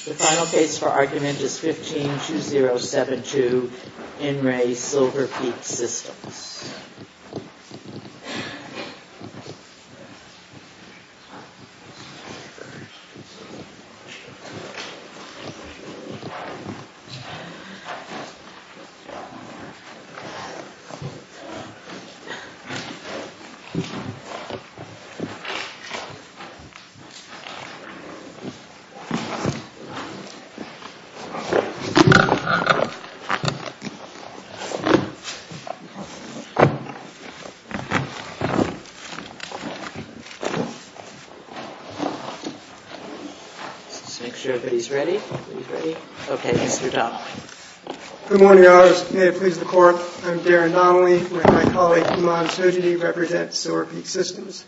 The final case for argument is 15-2072, In Re Silver Peak Systems. Let's make sure everybody's ready. Okay, Mr. Donnelly. Good morning, Your Honors. May it please the Court, I'm Darren Donnelly, and my colleague, Iman Sojidi, represents Silver Peak Systems.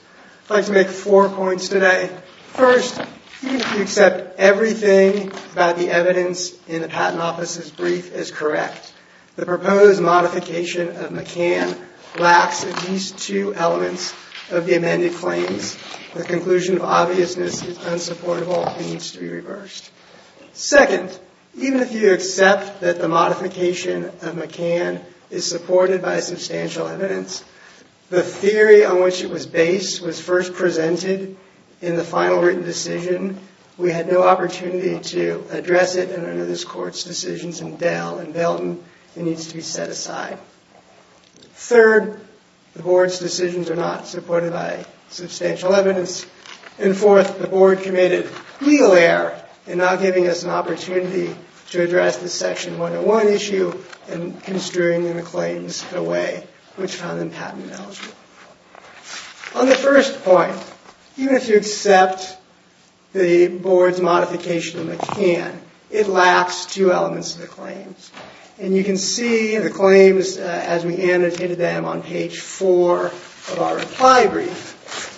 I'd like to make four points today. First, even if you accept everything about the evidence in the Patent Office's brief as correct, the proposed modification of McCann lacks at least two elements of the amended claims. Second, even if you accept that the modification of McCann is supported by substantial evidence, the theory on which it was based was first presented in the final written decision. We had no opportunity to address it in another court's decisions in Dell and Belton. It needs to be set aside. Third, the Board's decisions are not supported by substantial evidence. And fourth, the Board committed legal error in not giving us an opportunity to address the Section 101 issue and construing the claims in a way which found them patent eligible. On the first point, even if you accept the Board's modification of McCann, it lacks two elements of the claims. And you can see the claims as we annotated them on page four of our reply brief.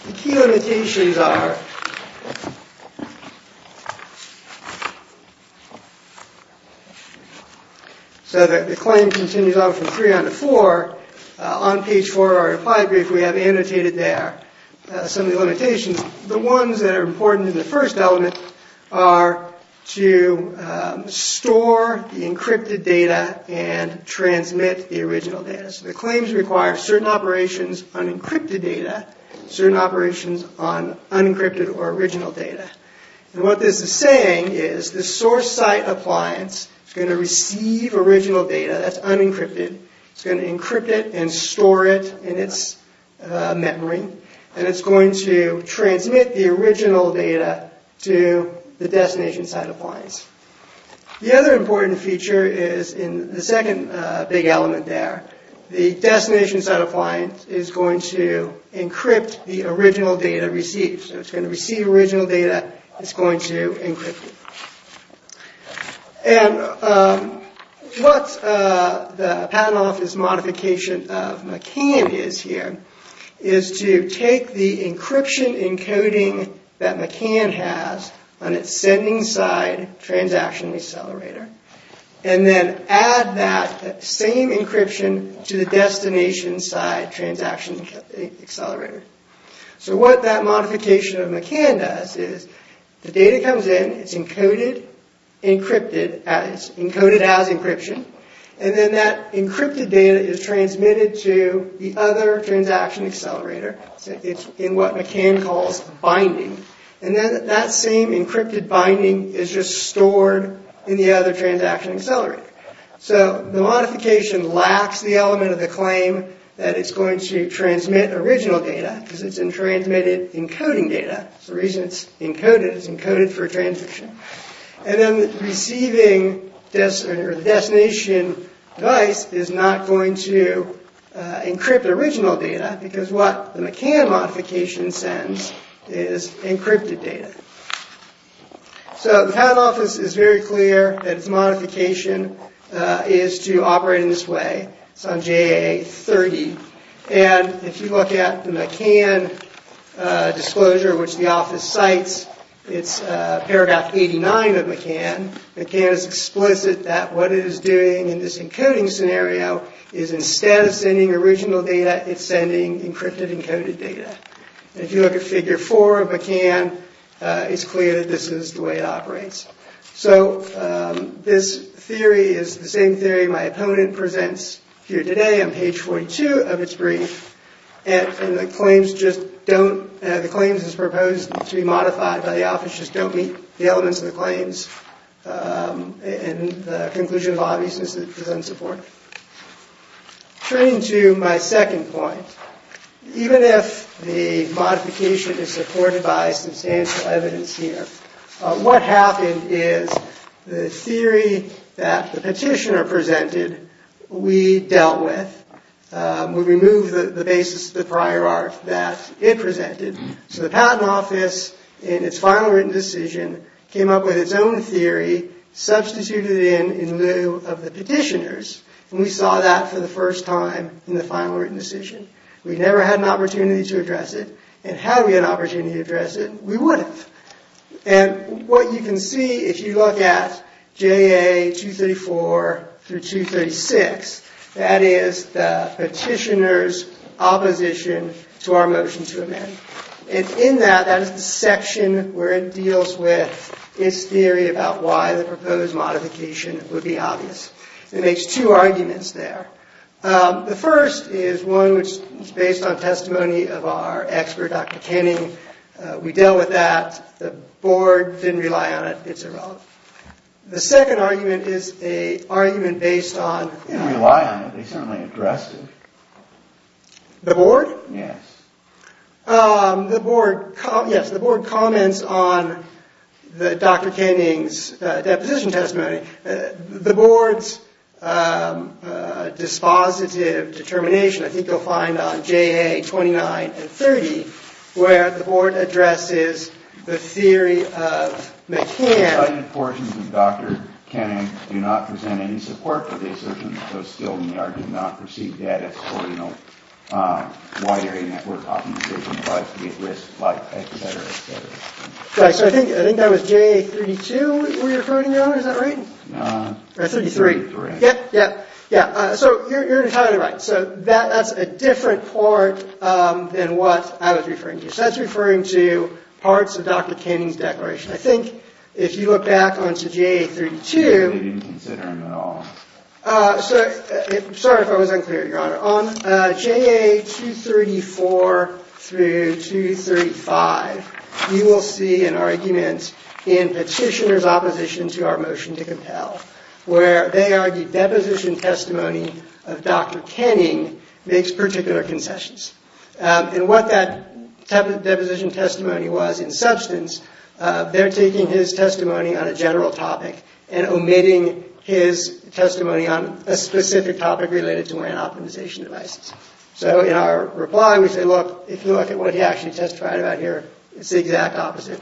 The key limitations are so that the claim continues on from three on to four. On page four of our reply brief, we have annotated there some of the limitations. The ones that are important in the first element are to store the encrypted data and transmit the original data. So the claims require certain operations on encrypted data, certain operations on unencrypted or original data. And what this is saying is the source site appliance is going to receive original data that's unencrypted, it's going to encrypt it and store it in its memory, and it's going to transmit the original data to the destination site appliance. The other important feature is in the second big element there, the destination site appliance is going to encrypt the original data received. So it's going to receive original data, it's going to encrypt it. And what the Patent Office modification of McCann is here is to take the encryption encoding that McCann has on its sending side transaction accelerator and then add that same encryption to the destination side transaction accelerator. So what that modification of McCann does is the data comes in, it's encoded as encryption, and then that encrypted data is transmitted to the other transaction accelerator. It's in what McCann calls binding. And then that same encrypted binding is just stored in the other transaction accelerator. So the modification lacks the element of the claim that it's going to transmit original data because it's transmitted encoding data. It's the reason it's encoded, it's encoded for transmission. And then the receiving destination device is not going to encrypt original data because what the McCann modification sends is encrypted data. So the Patent Office is very clear that its modification is to operate in this way. It's on JAA-30. And if you look at the McCann disclosure, which the office cites, it's paragraph 89 of McCann. McCann is explicit that what it is doing in this encoding scenario is instead of sending original data, it's sending encrypted encoded data. And if you look at figure four of McCann, it's clear that this is the way it operates. So this theory is the same theory my opponent presents here today on page 42 of its brief. And the claims just don't, the claims as proposed to be modified by the office just don't meet the elements of the claims and the conclusion of obviousness that it presents support. Turning to my second point, even if the modification is supported by substantial evidence here, what happened is the theory that the petitioner presented, we dealt with. We removed the basis of the prior art that it presented. So the Patent Office, in its final written decision, came up with its own theory, substituted it in in lieu of the petitioner's. And we saw that for the first time in the final written decision. We never had an opportunity to address it. And had we had an opportunity to address it, we would have. And what you can see, if you look at JAA-234 through 236, that is the petitioner's opposition to our motion to amend. And in that, that is the section where it deals with its theory about why the proposed modification would be obvious. It makes two arguments there. The first is one which is based on testimony of our expert, Dr. Kenning. We dealt with that. The board didn't rely on it. It's irrelevant. The second argument is an argument based on... They didn't rely on it. They certainly addressed it. The board? Yes. Yes, the board comments on Dr. Kenning's deposition testimony. The board's dispositive determination, I think you'll find on JAA-29 and 30, where the board addresses the theory of McCann. Dr. Kenning did not present any support for the assertion, so still we do not receive data for, you know, why area network optimization applies to the at-risk flight, et cetera, et cetera. So I think that was JAA-32 we were referring to, is that right? No. 33. 33. Yep, yep, yep. So you're entirely right. So that's a different part than what I was referring to. So that's referring to parts of Dr. Kenning's declaration. I think if you look back onto JAA-32... We didn't consider him at all. Sorry if I was unclear, Your Honor. On JAA-234 through 235, you will see an argument in petitioner's opposition to our motion to compel, where they argued deposition testimony of Dr. Kenning makes particular concessions. And what that deposition testimony was in substance, they're taking his testimony on a general topic and omitting his testimony on a specific topic related to WAN optimization devices. So in our reply, we say, look, if you look at what he actually testified about here, it's the exact opposite.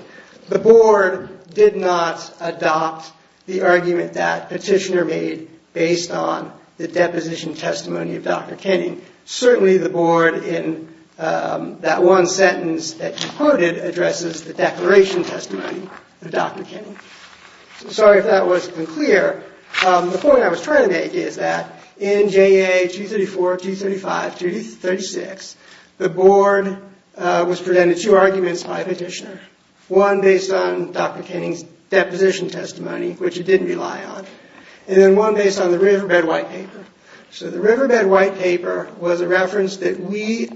The board did not adopt the argument that petitioner made based on the deposition testimony of Dr. Kenning. Certainly the board in that one sentence that he quoted addresses the declaration testimony of Dr. Kenning. Sorry if that wasn't clear. The point I was trying to make is that in JAA-234, 235, 236, the board was presented two arguments by petitioner, one based on Dr. Kenning's deposition testimony, which it didn't rely on, and then one based on the Riverbed White Paper. So the Riverbed White Paper was a reference that we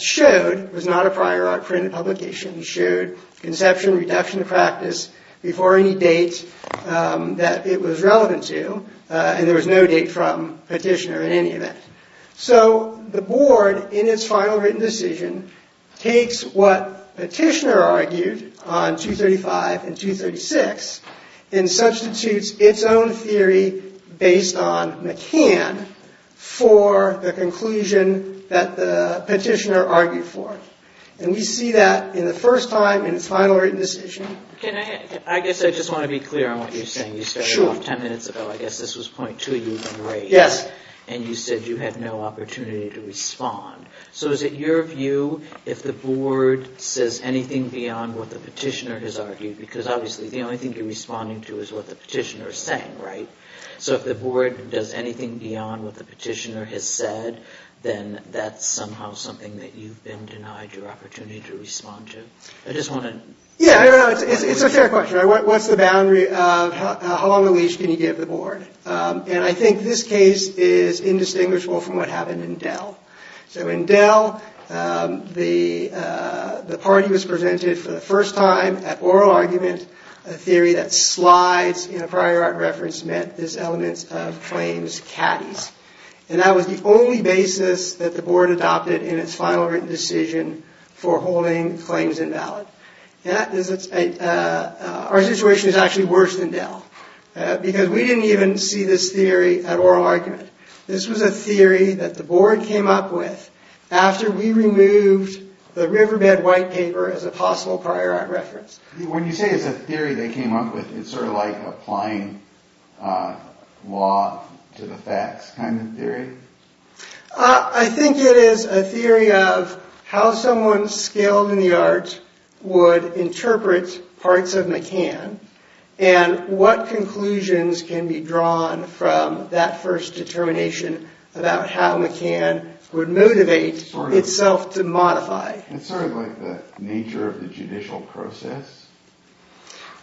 showed. It was not a prior art printed publication. It showed conception reduction of practice before any date that it was relevant to, and there was no date from petitioner in any event. So the board, in its final written decision, takes what petitioner argued on 235 and 236 and substitutes its own theory based on McCann for the conclusion that the petitioner argued for. And we see that in the first time in its final written decision. I guess I just want to be clear on what you're saying. You started off ten minutes ago. I guess this was point two you raised. Yes. And you said you had no opportunity to respond. Because obviously the only thing you're responding to is what the petitioner is saying, right? So if the board does anything beyond what the petitioner has said, then that's somehow something that you've been denied your opportunity to respond to. I just want to— Yeah, it's a fair question. What's the boundary of how long a leash can you give the board? And I think this case is indistinguishable from what happened in Dell. So in Dell, the party was presented for the first time at oral argument, a theory that slides in a prior art reference meant this element of claims caddies. And that was the only basis that the board adopted in its final written decision for holding claims invalid. Our situation is actually worse than Dell, because we didn't even see this theory at oral argument. This was a theory that the board came up with after we removed the Riverbed white paper as a possible prior art reference. When you say it's a theory they came up with, it's sort of like applying law to the facts kind of theory? I think it is a theory of how someone skilled in the art would interpret parts of McCann and what conclusions can be drawn from that first determination about how McCann would motivate itself to modify. It's sort of like the nature of the judicial process?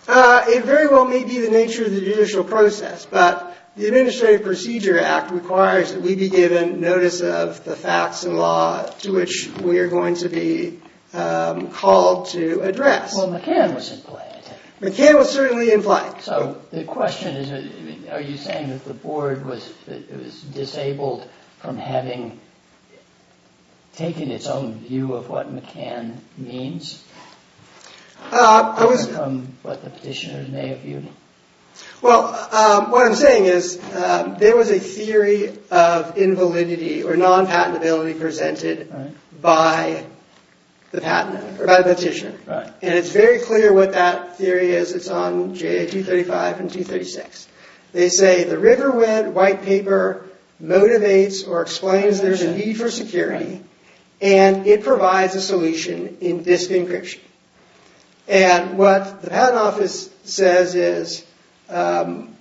It very well may be the nature of the judicial process, but the Administrative Procedure Act requires that we be given notice of the facts and law to which we are going to be called to address. Well, McCann was in play, I take it? McCann was certainly in play. So the question is, are you saying that the board was disabled from having taken its own view of what McCann means? From what the petitioners may have viewed? Well, what I'm saying is there was a theory of invalidity or non-patentability presented by the petitioner. And it's very clear what that theory is. It's on J.A. 235 and 236. They say the Riverwood white paper motivates or explains there's a need for security and it provides a solution in disk encryption. And what the patent office says is, I'm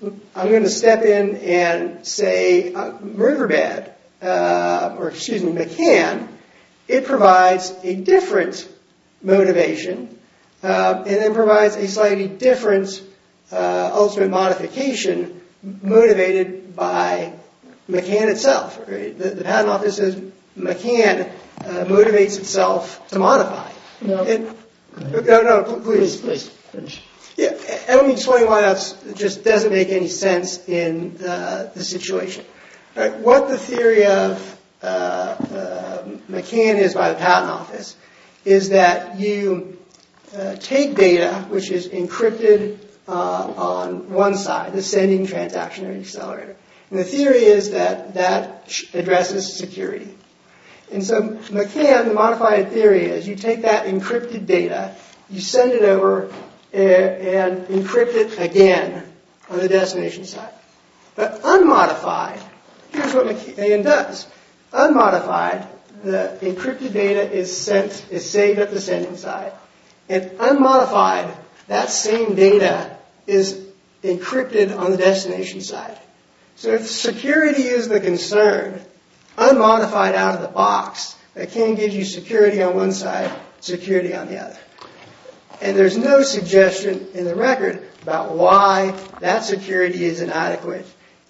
going to step in and say, Riverbed, or excuse me, McCann, it provides a different motivation and then provides a slightly different ultimate modification motivated by McCann itself. The patent office says McCann motivates itself to modify. No. No, no, please, please. It just doesn't make any sense in the situation. What the theory of McCann is by the patent office is that you take data which is encrypted on one side, the sending transaction or the accelerator. And the theory is that that addresses security. And so McCann, the modified theory is you take that encrypted data, you send it over and encrypt it again on the destination side. But unmodified, here's what McCann does. Unmodified, the encrypted data is saved at the sending side. And unmodified, that same data is encrypted on the destination side. So if security is the concern, unmodified out of the box, McCann gives you security on one side, security on the other. And there's no suggestion in the record about why that security is inadequate.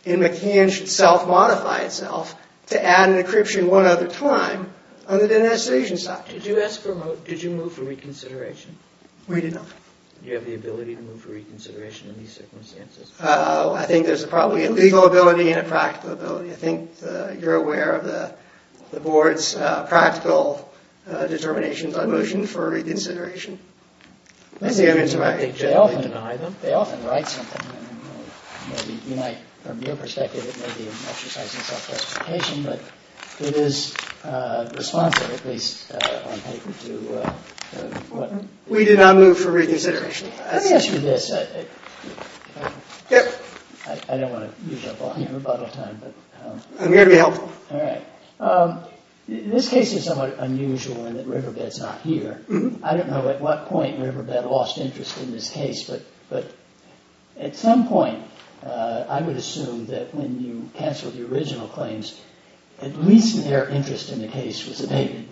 And McCann should self-modify itself to add an encryption one other time on the destination side. Did you move for reconsideration? We didn't know. Do you have the ability to move for reconsideration in these circumstances? I think there's probably a legal ability and a practical ability. I think you're aware of the board's practical determinations on motion for reconsideration. They often deny them. They often write something. From your perspective, it may be an exercise in self-justification, but it is responsive, at least on paper, to what... We did not move for reconsideration. Let me ask you this. I don't want to use up all your rebuttal time. I'm here to be helpful. All right. This case is somewhat unusual in that Riverbed's not here. I don't know at what point Riverbed lost interest in this case, but at some point, I would assume that when you canceled the original claims, at least their interest in the case was abated,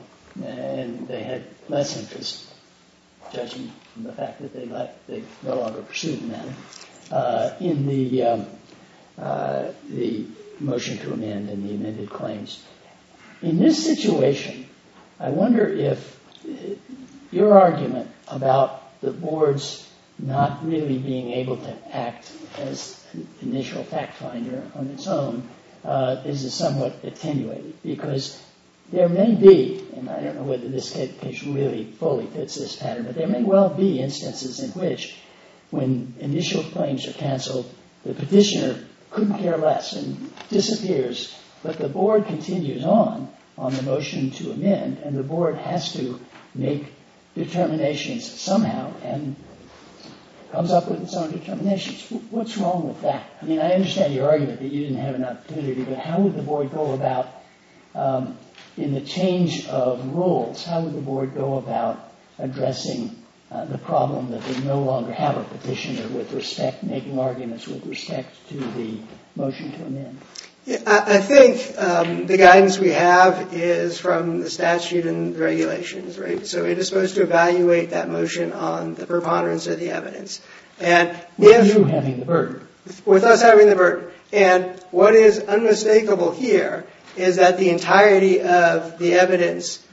and they had less interest, judging from the fact that they no longer pursued the matter, in the motion to amend and the amended claims. In this situation, I wonder if your argument about the board's not really being able to act as an initial fact finder on its own is somewhat attenuated, because there may be, and I don't know whether this case really fully fits this pattern, but there may well be instances in which, when initial claims are canceled, the petitioner couldn't care less and disappears, but the board continues on, on the motion to amend, and the board has to make determinations somehow and comes up with its own determinations. What's wrong with that? I mean, I understand your argument that you didn't have an opportunity, but how would the board go about, in the change of roles, how would the board go about addressing the problem that they no longer have a petitioner with respect, making arguments with respect to the motion to amend? I think the guidance we have is from the statute and regulations, right? So it is supposed to evaluate that motion on the preponderance of the evidence. And with you having the burden. With us having the burden. And what is unmistakable here is that the entirety of the evidence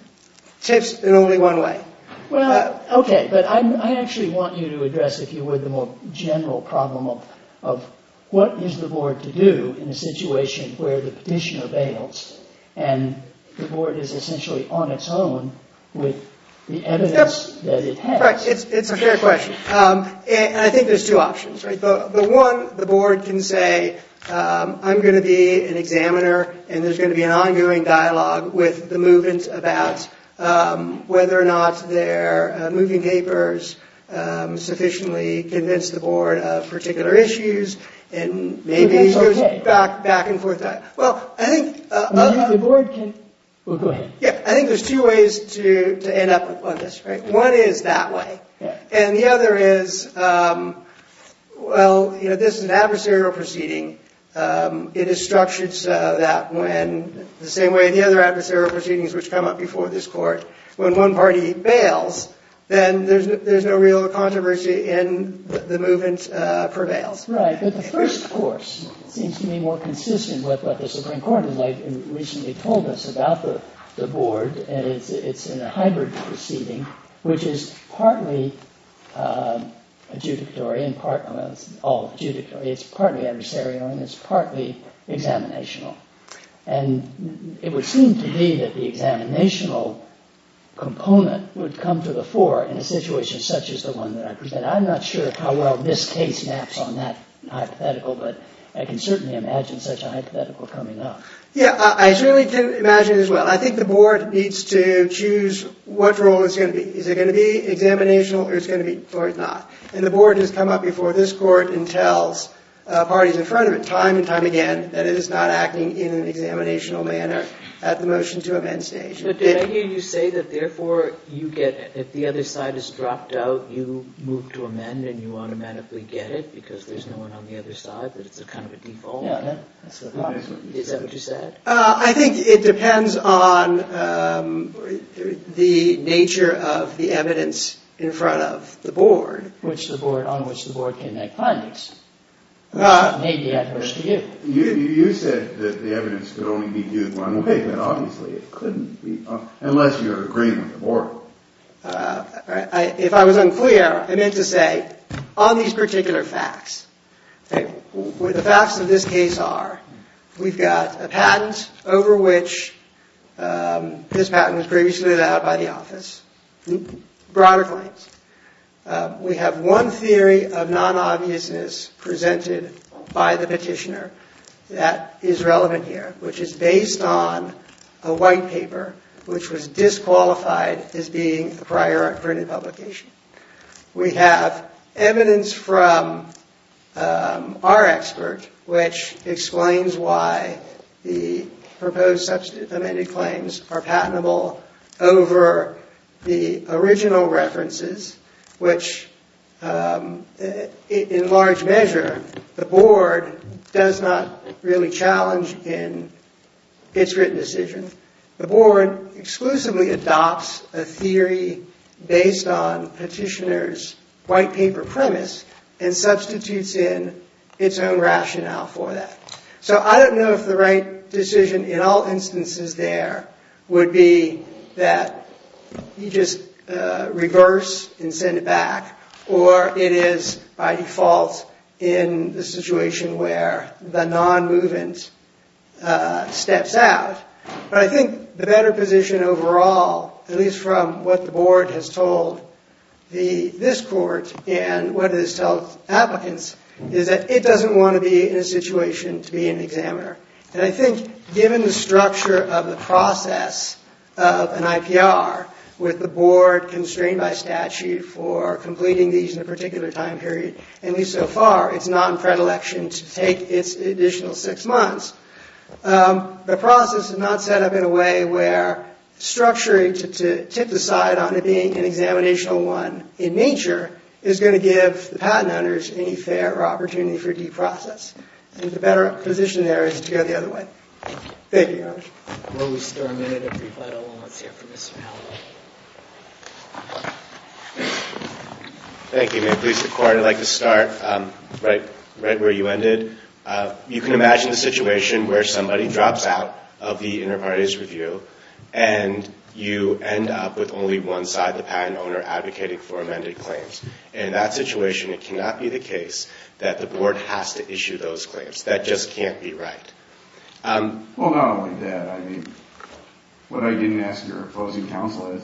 tips in only one way. Well, okay. But I actually want you to address, if you would, the more general problem of what is the board to do in a situation where the petitioner bails and the board is essentially on its own with the evidence that it has? It's a fair question. And I think there's two options, right? One, the board can say, I'm going to be an examiner and there's going to be an ongoing dialogue with the movement about whether or not their moving papers sufficiently convince the board of particular issues and maybe it goes back and forth. Well, I think the board can. Well, go ahead. I think there's two ways to end up on this, right? One is that way. And the other is, well, you know, this is an adversarial proceeding. It is structured so that when the same way the other adversarial proceedings which come up before this court, when one party bails, then there's no real controversy and the movement prevails. Right. But the first course seems to be more consistent with what the Supreme Court has recently told us about the board. And it's in a hybrid proceeding which is partly adjudicatory and partly adjudicatory. It's partly adversarial and it's partly examinational. And it would seem to me that the examinational component would come to the fore in a situation such as the one that I presented. I'm not sure how well this case maps on that hypothetical, but I can certainly imagine such a hypothetical coming up. Yeah, I certainly can imagine as well. I think the board needs to choose what role it's going to be. Is it going to be examinational or is it going to be not? And the board has come up before this court and tells parties in front of it time and time again that it is not acting in an examinational manner at the motion to amend stage. But did I hear you say that, therefore, you get it. If the other side is dropped out, you move to amend and you automatically get it because there's no one on the other side, that it's kind of a default? Yeah, that's what I thought. Is that what you said? I think it depends on the nature of the evidence in front of the board. Which the board, on which the board can make findings. It may be adverse to you. You said that the evidence could only be due to one way, but obviously it couldn't be unless you're agreeing with the board. If I was unclear, I meant to say on these particular facts. The facts of this case are we've got a patent over which this patent was previously allowed by the office, broader claims. We have one theory of non-obviousness presented by the petitioner that is relevant here, which is based on a white paper which was disqualified as being a prior printed publication. We have evidence from our expert, which explains why the proposed substantive amended claims are patentable over the original references, which in large measure the board does not really challenge in its written decision. The board exclusively adopts a theory based on petitioner's white paper premise and substitutes in its own rationale for that. So I don't know if the right decision in all instances there would be that you just reverse and send it back, or it is by default in the situation where the non-movement steps out. But I think the better position overall, at least from what the board has told this court and what it has told applicants, is that it doesn't want to be in a situation to be an examiner. And I think given the structure of the process of an IPR with the board constrained by statute for completing these in a particular time period, and at least so far it's not in predilection to take its additional six months, the process is not set up in a way where structuring to tip the side on it being an examinational one in nature is going to give the patent owners any fair opportunity for deprocess. I think the better position there is to go the other way. Thank you, Your Honor. Thank you. Please, the court, I'd like to start right where you ended. You can imagine the situation where somebody drops out of the Interparties Review and you end up with only one side, the patent owner, advocating for amended claims. In that situation, it cannot be the case that the board has to issue those claims. That just can't be right. Well, not only that. I mean, what I didn't ask your opposing counsel is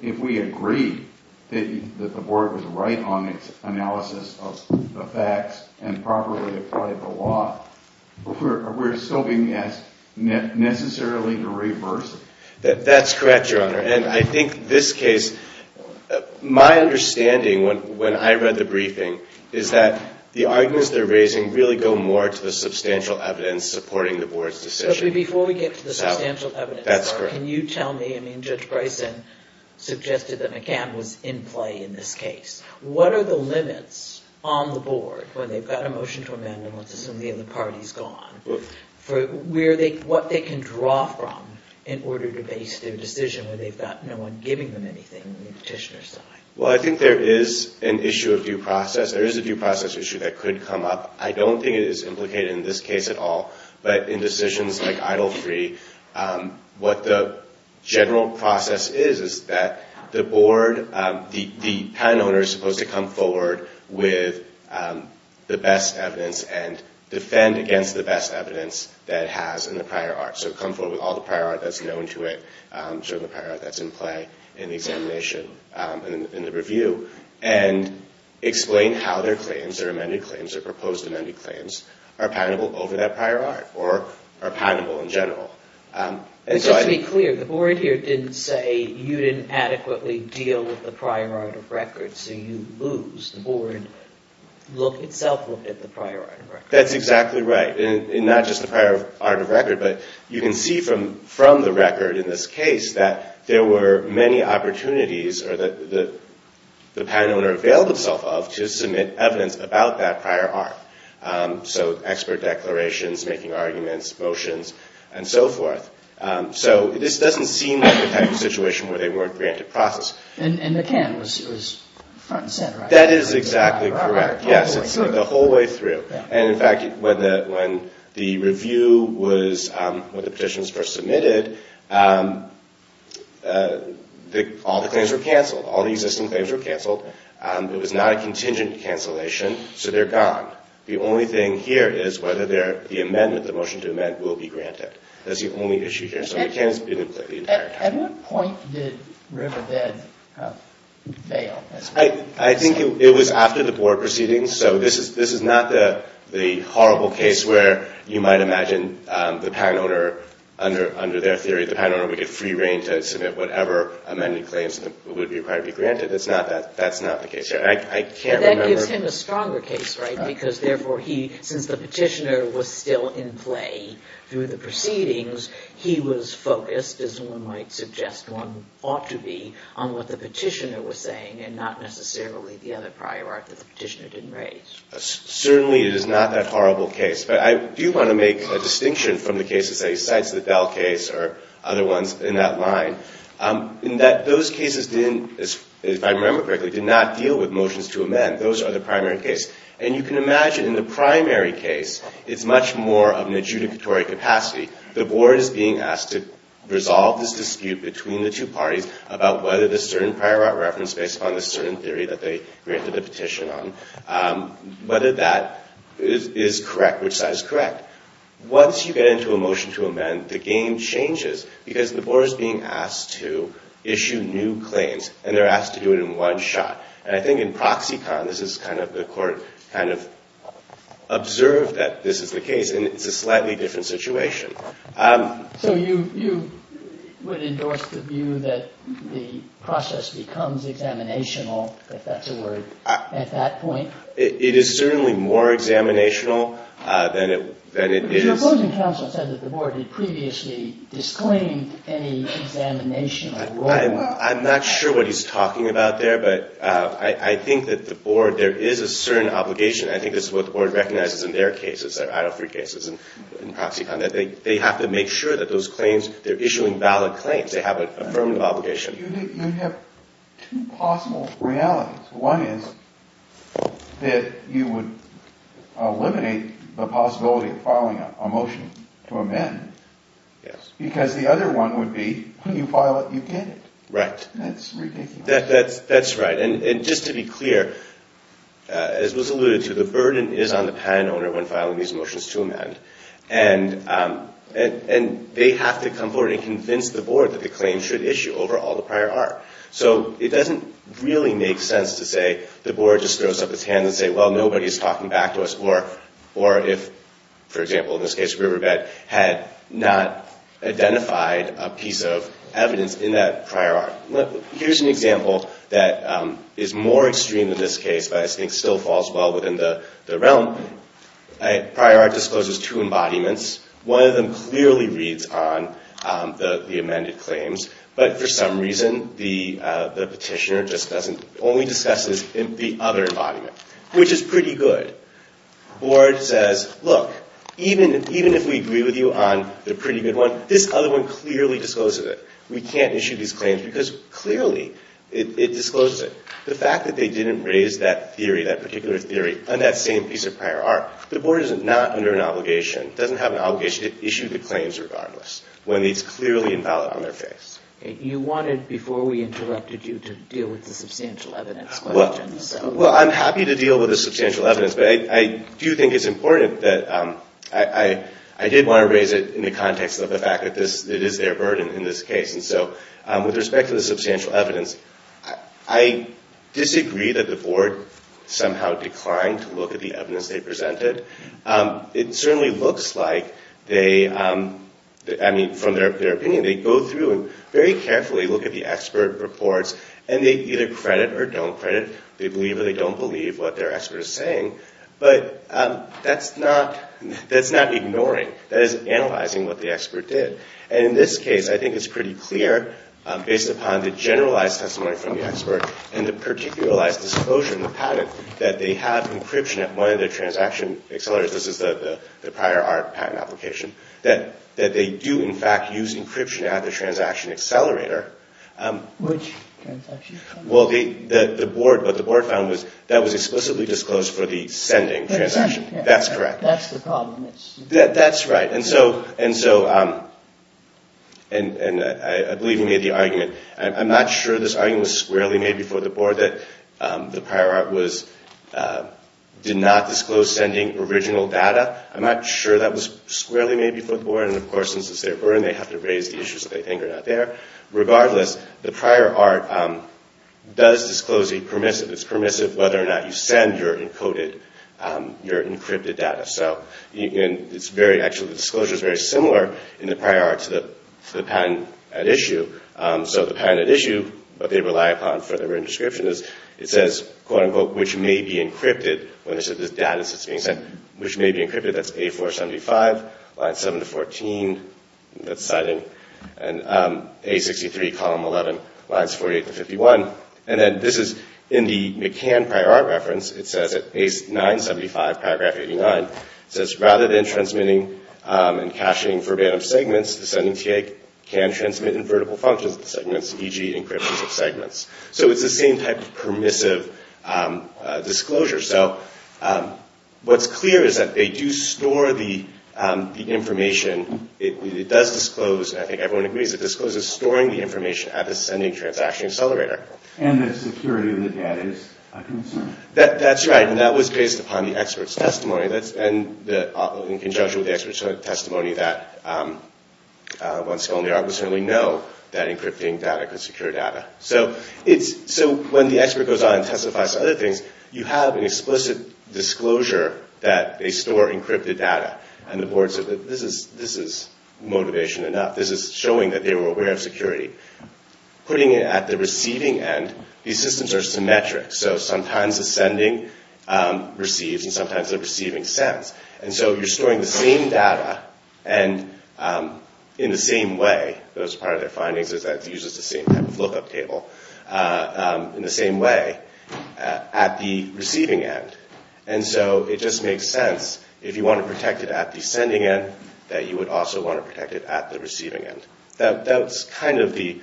if we agree that the board was right on its analysis of the facts and properly applied the law, we're still being asked necessarily to reverse it. That's correct, Your Honor. And I think this case, my understanding when I read the briefing, is that the arguments they're raising really go more to the substantial evidence supporting the board's decision. But before we get to the substantial evidence, can you tell me, I mean, Judge Bryson suggested that McCann was in play in this case. What are the limits on the board when they've got a motion to amend and once it's in the end, the party's gone? What they can draw from in order to base their decision when they've got no one giving them anything on the petitioner's side? Well, I think there is an issue of due process. There is a due process issue that could come up. I don't think it is implicated in this case at all. But in decisions like EIDL 3, what the general process is is that the board, the patent owner is supposed to come forward with the best evidence and defend against the best evidence that it has in the prior art. So come forward with all the prior art that's known to it, show the prior art that's in play in the examination, in the review, and explain how their claims, their amended claims, their proposed amended claims are patentable over that prior art or are patentable in general. Just to be clear, the board here didn't say that you didn't adequately deal with the prior art of record, so you lose. The board itself looked at the prior art of record. That's exactly right. And not just the prior art of record, but you can see from the record in this case that there were many opportunities that the patent owner availed himself of to submit evidence about that prior art. So expert declarations, making arguments, motions, and so forth. So this doesn't seem like the type of situation where they weren't granted process. And the can was front and center. That is exactly correct, yes. It's the whole way through. And in fact, when the review was, when the petition was first submitted, all the claims were canceled. All the existing claims were canceled. It was not a contingent cancellation, so they're gone. The only thing here is whether the amendment, the motion to amend, will be granted. That's the only issue here. So the can has been in place the entire time. At what point did Riverbed fail? I think it was after the board proceedings, so this is not the horrible case where you might imagine the patent owner, under their theory, the patent owner would get free reign to submit whatever amended claims would be required to be granted. That's not the case here. That gives him a stronger case, right? Because, therefore, he, since the petitioner was still in play through the proceedings, he was focused, as one might suggest one ought to be, on what the petitioner was saying and not necessarily the other prior art that the petitioner didn't raise. Certainly it is not that horrible case. But I do want to make a distinction from the cases, say, Cites the Bell case or other ones in that line, in that those cases didn't, if I remember correctly, did not deal with motions to amend. Those are the primary case. And you can imagine, in the primary case, it's much more of an adjudicatory capacity. The board is being asked to resolve this dispute between the two parties about whether the certain prior art reference based upon the certain theory that they granted the petition on, whether that is correct, which side is correct. Once you get into a motion to amend, the game changes because the board is being asked to issue new claims and they're asked to do it in one shot. And I think in Proxicon, this is kind of the court, kind of observed that this is the case and it's a slightly different situation. So you would endorse the view that the process becomes examinational, if that's a word, at that point? It is certainly more examinational than it is. Your opposing counsel said that the board had previously disclaimed any examinational role. I'm not sure what he's talking about there, but I think that the board, there is a certain obligation. I think this is what the board recognizes in their cases, their I-03 cases in Proxicon, that they have to make sure that those claims, they're issuing valid claims, they have an affirmative obligation. You have two possible realities. One is that you would eliminate the possibility of filing a motion to amend because the other one would be when you file it, you get it. Right. That's right. And just to be clear, as was alluded to, the burden is on the patent owner when filing these motions to amend. And they have to come forward and convince the board that the claim should issue over all the prior art. So it doesn't really make sense to say the board just throws up its hands and say, well, nobody's talking back to us, or if, for example, in this case, Riverbed, had not identified a piece of evidence in that prior art. Here's an example that is more extreme in this case, but I think still falls well within the realm. Prior art discloses two embodiments. One of them clearly reads on the amended claims, but for some reason, the petitioner just doesn't, only discusses the other embodiment, which is pretty good. The board says, look, even if we agree with you on the pretty good one, this other one clearly discloses it. We can't issue these claims because clearly it discloses it. The fact that they didn't raise that theory, that particular theory, on that same piece of prior art, the board is not under an obligation, doesn't have an obligation to issue the claims regardless when it's clearly invalid on their face. You wanted, before we interrupted you, to deal with the substantial evidence question. Well, I'm happy to deal with the substantial evidence, but I do think it's important that I did want to raise it in the context of the fact that it is their burden in this case. With respect to the substantial evidence, I disagree that the board somehow declined to look at the evidence they presented. It certainly looks like, from their opinion, they go through and very carefully look at the expert reports, and they either credit or don't credit. They believe or they don't believe what their expert is saying. But that's not ignoring. That is analyzing what the expert did. In this case, I think it's pretty clear, based upon the generalized testimony from the expert and the particularized disclosure in the patent, that they have encryption at one of their transaction accelerators. This is the prior art patent application. That they do, in fact, use encryption at the transaction accelerator, which the board found was explicitly disclosed for the sending transaction. That's correct. That's the problem. That's right. I believe you made the argument. I'm not sure this argument was squarely made before the board that the prior art did not disclose sending original data. I'm not sure that was squarely made before the board. Of course, since it's their burden, they have to raise the issues that they think are not there. Regardless, the prior art does disclose a permissive. It's permissive whether or not you send your encoded, your encrypted data. Actually, the disclosure is very similar in the prior art to the patent at issue. The patent at issue, what they rely upon for their written description is, it says, quote-unquote, which may be encrypted when this data is being sent. Which may be encrypted. That's A-475, line 7-14. That's citing A-63, column 11, lines 48-51. This is in the McCann prior art reference. It says at A-975, paragraph 89, it says, rather than transmitting and caching verbatim segments, the sending TA can transmit in vertical functions the segments, e.g. encryptions of segments. It's the same type of permissive disclosure. What's clear is that they do store the information. It does disclose, and I think everyone agrees, it discloses storing the information at the sending transaction accelerator. And the security of the data is a concern. That's right. That was based upon the expert's testimony. In conjunction with the expert's testimony, that one's only art would certainly know that encrypting data could secure data. When the expert goes on and testifies to other things, you have an explicit disclosure that they store encrypted data. And the board says, this is motivation enough. This is showing that they were aware of security. Putting it at the receiving end, these systems are symmetric. So sometimes the sending receives, and sometimes the receiving sends. And so you're storing the same data, and in the same way, that was part of their findings, is that it uses the same type of lookup table. In the same way, at the receiving end. And so it just makes sense, if you want to protect it at the sending end, that you would also want to protect it at the receiving end. That's kind of the,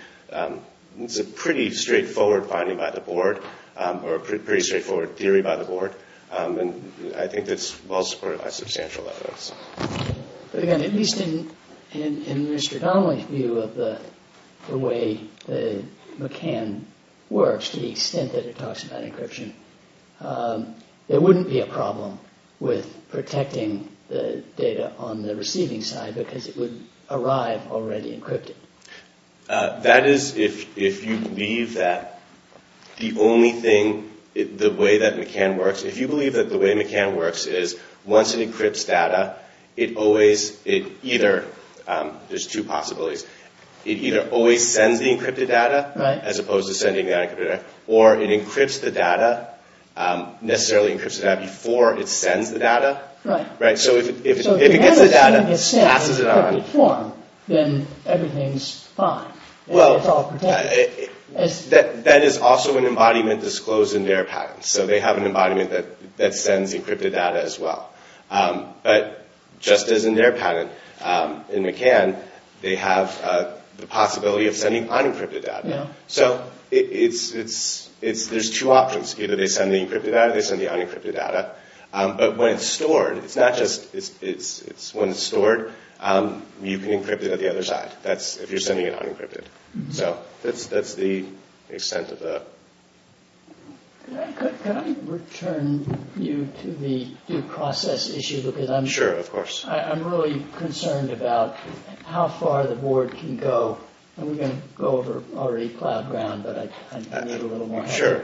it's a pretty straightforward finding by the board, or a pretty straightforward theory by the board. And I think it's well supported by substantial evidence. But again, at least in Mr. Donnelly's view of the way that McCann works, to the extent that it talks about encryption, there wouldn't be a problem with protecting the data on the receiving side, because it would arrive already encrypted. That is, if you believe that the only thing, the way that McCann works, if you believe that the way McCann works is, once it encrypts data, it always, it either, there's two possibilities, it either always sends the encrypted data, as opposed to sending the unencrypted data, or it encrypts the data, necessarily encrypts the data, before it sends the data. So if it gets the data and passes it on, then everything's fine. It's all protected. That is also an embodiment disclosed in their patents. So they have an embodiment that sends encrypted data as well. But just as in their patent, in McCann, they have the possibility of sending unencrypted data. So there's two options. Either they send the encrypted data, or they send the unencrypted data. But when it's stored, it's not just, when it's stored, you can encrypt it at the other side, if you're sending it unencrypted. So that's the extent of the... Can I return you to the due process issue? Because I'm... Sure, of course. I'm really concerned about how far the board can go. And we're going to go over already plowed ground, but I need a little more time. Sure.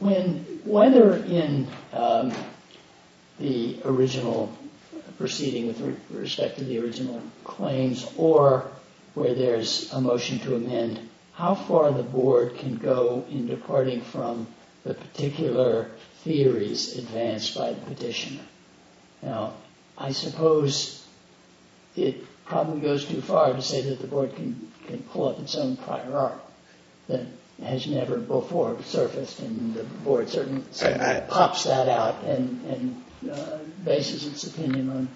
When, whether in the original proceeding with respect to the original claims, or where there's a motion to amend, how far the board can go in departing from the particular theories advanced by the petitioner? Now, I suppose it probably goes too far to say that the board can pull up its own prior art that has never before surfaced, and the board certainly pops that out and bases its opinion on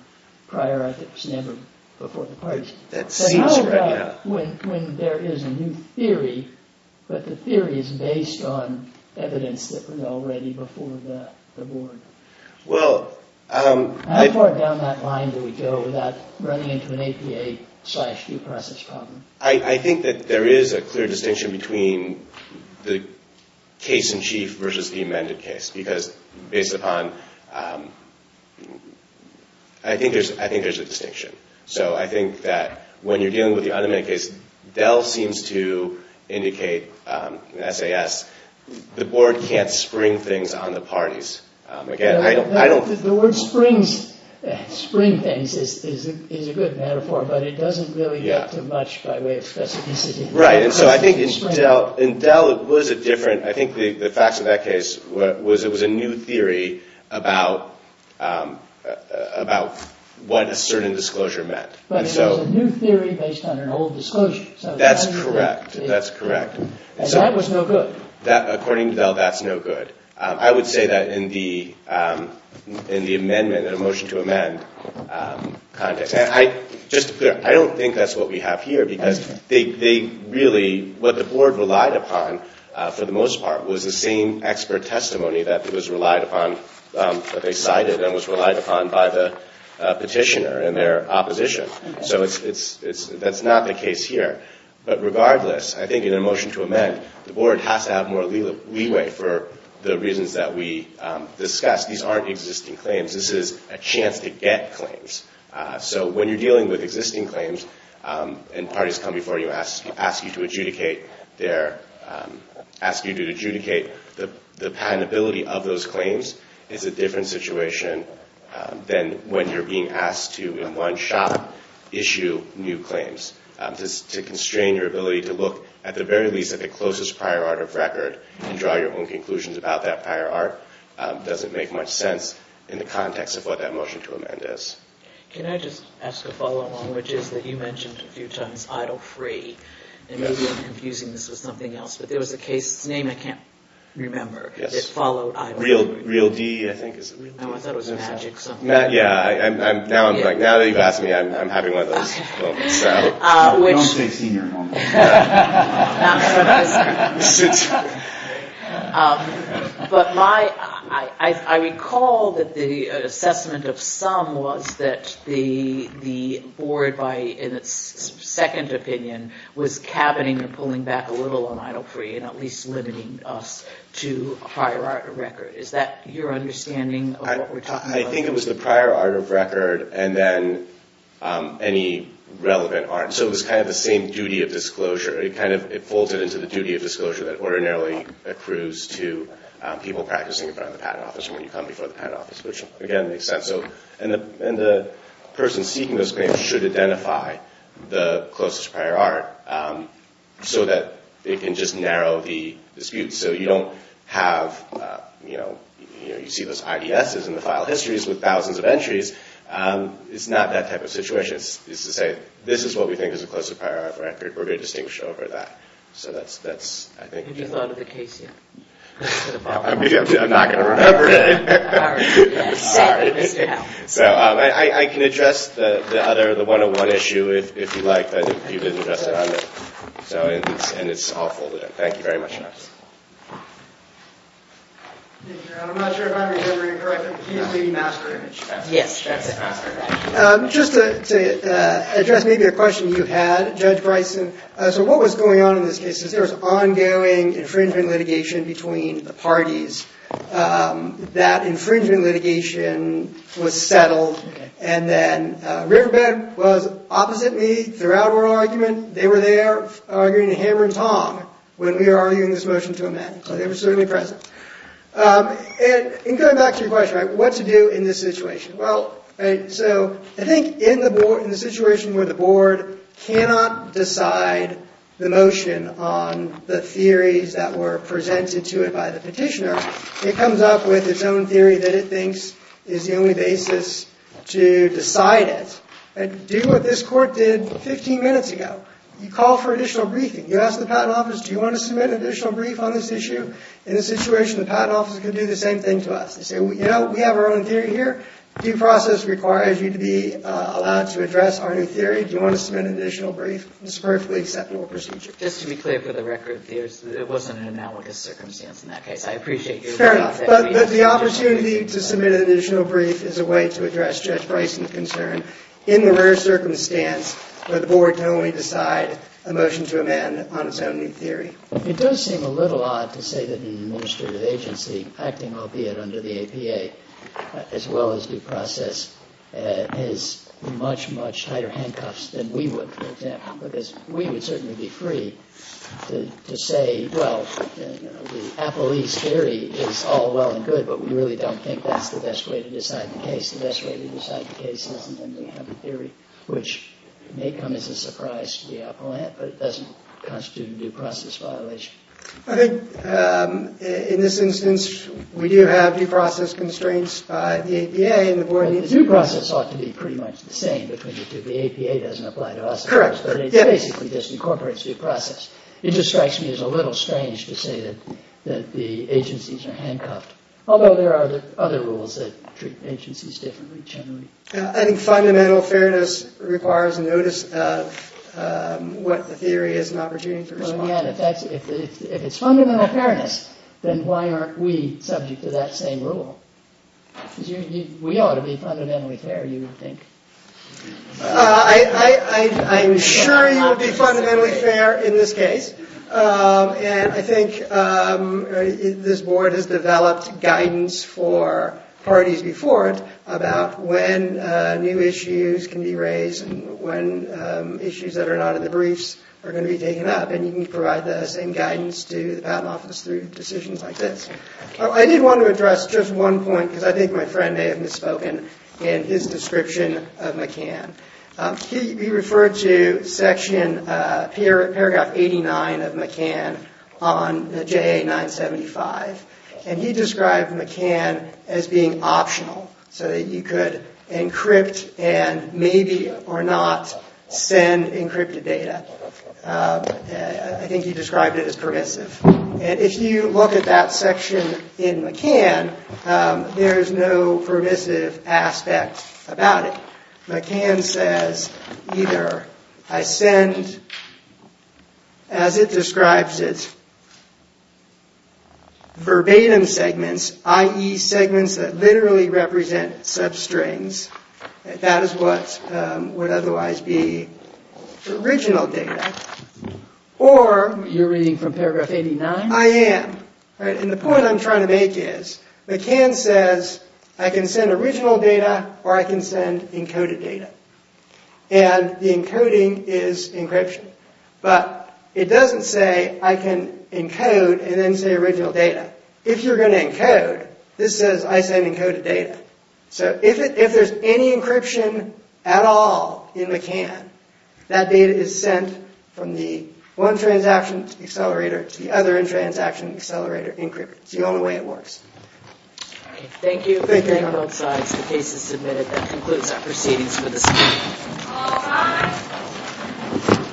prior ethics never before the parties. But how about when there is a new theory, but the theory is based on evidence that was already before the board? How far down that line do we go without running into an APA slash due process problem? I think that there is a clear distinction between the case-in-chief versus the amended case, because based upon... I think there's a distinction. So I think that when you're dealing with the unamended case, Dell seems to indicate in SAS, the board can't spring things on the parties. Again, I don't... The word springs things is a good metaphor, but it doesn't really get to much by way of specificity. Right, and so I think in Dell it was a different... I think the facts of that case was it was a new theory about what a certain disclosure meant. But it was a new theory based on an old disclosure. That's correct, that's correct. And that was no good. According to Dell, that's no good. I would say that in the amendment, in the motion to amend context. Just to be clear, I don't think that's what we have here, because they really... What the board relied upon for the most part was the same expert testimony that was relied upon, that they cited and was relied upon by the petitioner and their opposition. So that's not the case here. But regardless, I think in a motion to amend, the board has to have more leeway for the reasons that we discussed. These aren't existing claims. This is a chance to get claims. So when you're dealing with existing claims and parties come before you, ask you to adjudicate their... Ask you to adjudicate... The patentability of those claims is a different situation than when you're being asked to, in one shot, issue new claims. To constrain your ability to look at the very least at the closest prior art of record and draw your own conclusions about that prior art doesn't make much sense in the context of what that motion to amend is. Can I just ask a follow-on, which is that you mentioned a few times idle-free. And maybe I'm confusing this with something else, but there was a case's name I can't remember that followed idle-free. Real D, I think, is it? No, I thought it was Magic or something. Yeah, now that you've asked me, I'm having one of those moments. Don't say senior. But I recall that the assessment of some was that the board, in its second opinion, was cabining or pulling back a little on idle-free and at least limiting us to a prior art of record. Is that your understanding of what we're talking about? I think it was the prior art of record and then any relevant art. So it was kind of the same duty of disclosure. It folded into the duty of disclosure that ordinarily accrues to people practicing in front of the patent office when you come before the patent office, which, again, makes sense. And the person seeking those claims should identify the closest prior art so that they can just narrow the dispute. So you don't have, you know, you see those IDSs in the file histories with thousands of entries. It's not that type of situation. It's to say, this is what we think is the closest prior art of record. We're going to distinguish over that. Have you thought of the case yet? I'm not going to remember it. All right. So I can address the other, the 101 issue, if you like, but you didn't address it on there. And it's all folded in. Thank you very much. I'm not sure if I'm remembering correctly, but he used the master image. Yes, that's it. Just to address maybe a question you had, Judge Bryson. So what was going on in this case is there was ongoing infringement litigation between the parties. That infringement litigation was settled. And then Riverbend was opposite me throughout our argument. They were there arguing a hammer and tong when we were arguing this motion to amend. They were certainly present. And going back to your question, right, what to do in this situation. So I think in the situation where the board cannot decide the motion on the theories that were presented to it by the petitioner, it comes up with its own theory that it thinks is the only basis to decide it. And do what this court did 15 minutes ago. You call for additional briefing. You ask the patent office, do you want to submit an additional brief on this issue? In this situation, the patent office could do the same thing to us. They say, you know, we have our own theory here. Due process requires you to be allowed to address our new theory. Do you want to submit an additional brief? It's a perfectly acceptable procedure. Just to be clear for the record, it wasn't an analogous circumstance in that case. I appreciate your point. Fair enough. But the opportunity to submit an additional brief is a way to address Judge Bryson's concern in the rare circumstance where the board can only decide a motion to amend on its own new theory. It does seem a little odd to say that an administrative agency, acting albeit under the APA, as well as due process, has much, much tighter handcuffs than we would, for example. Because we would certainly be free to say, well, the Appelese theory is all well and good, but we really don't think that's the best way to decide the case. The best way to decide the case isn't under the theory, which may come as a surprise to the appellant, but it doesn't constitute a due process violation. I think, in this instance, we do have due process constraints by the APA and the board. But the due process ought to be pretty much the same between the two. The APA doesn't apply to us, of course, but it basically just incorporates due process. It just strikes me as a little strange to say that the agencies are handcuffed, although there are other rules that treat agencies differently, generally. I think fundamental fairness requires a notice of what the theory is and opportunity for response. Well, again, if it's fundamental fairness, then why aren't we subject to that same rule? We ought to be fundamentally fair, you would think. I'm sure you would be fundamentally fair in this case. And I think this board has developed guidance for parties before it about when new issues can be raised and when issues that are not in the briefs are going to be taken up. And you can provide the same guidance to the patent office through decisions like this. I did want to address just one point, because I think my friend may have misspoken in his description of McCann. He referred to paragraph 89 of McCann on the JA 975. And he described McCann as being optional, so that you could encrypt and maybe or not send encrypted data. I think he described it as permissive. And if you look at that section in McCann, there is no permissive aspect about it. McCann says either I send, as it describes it, verbatim segments, i.e. segments that literally represent substrings. That is what would otherwise be original data. You're reading from paragraph 89? I am. And the point I'm trying to make is, McCann says I can send original data or I can send encoded data. And the encoding is encryption. But it doesn't say I can encode and then say original data. If you're going to encode, this says I send encoded data. So if there's any encryption at all in McCann, that data is sent from the one transaction accelerator to the other transaction accelerator encrypted. It's the only way it works. Thank you. Thank you. Thank you on both sides. The case is submitted. That concludes our proceedings for this hearing. All rise.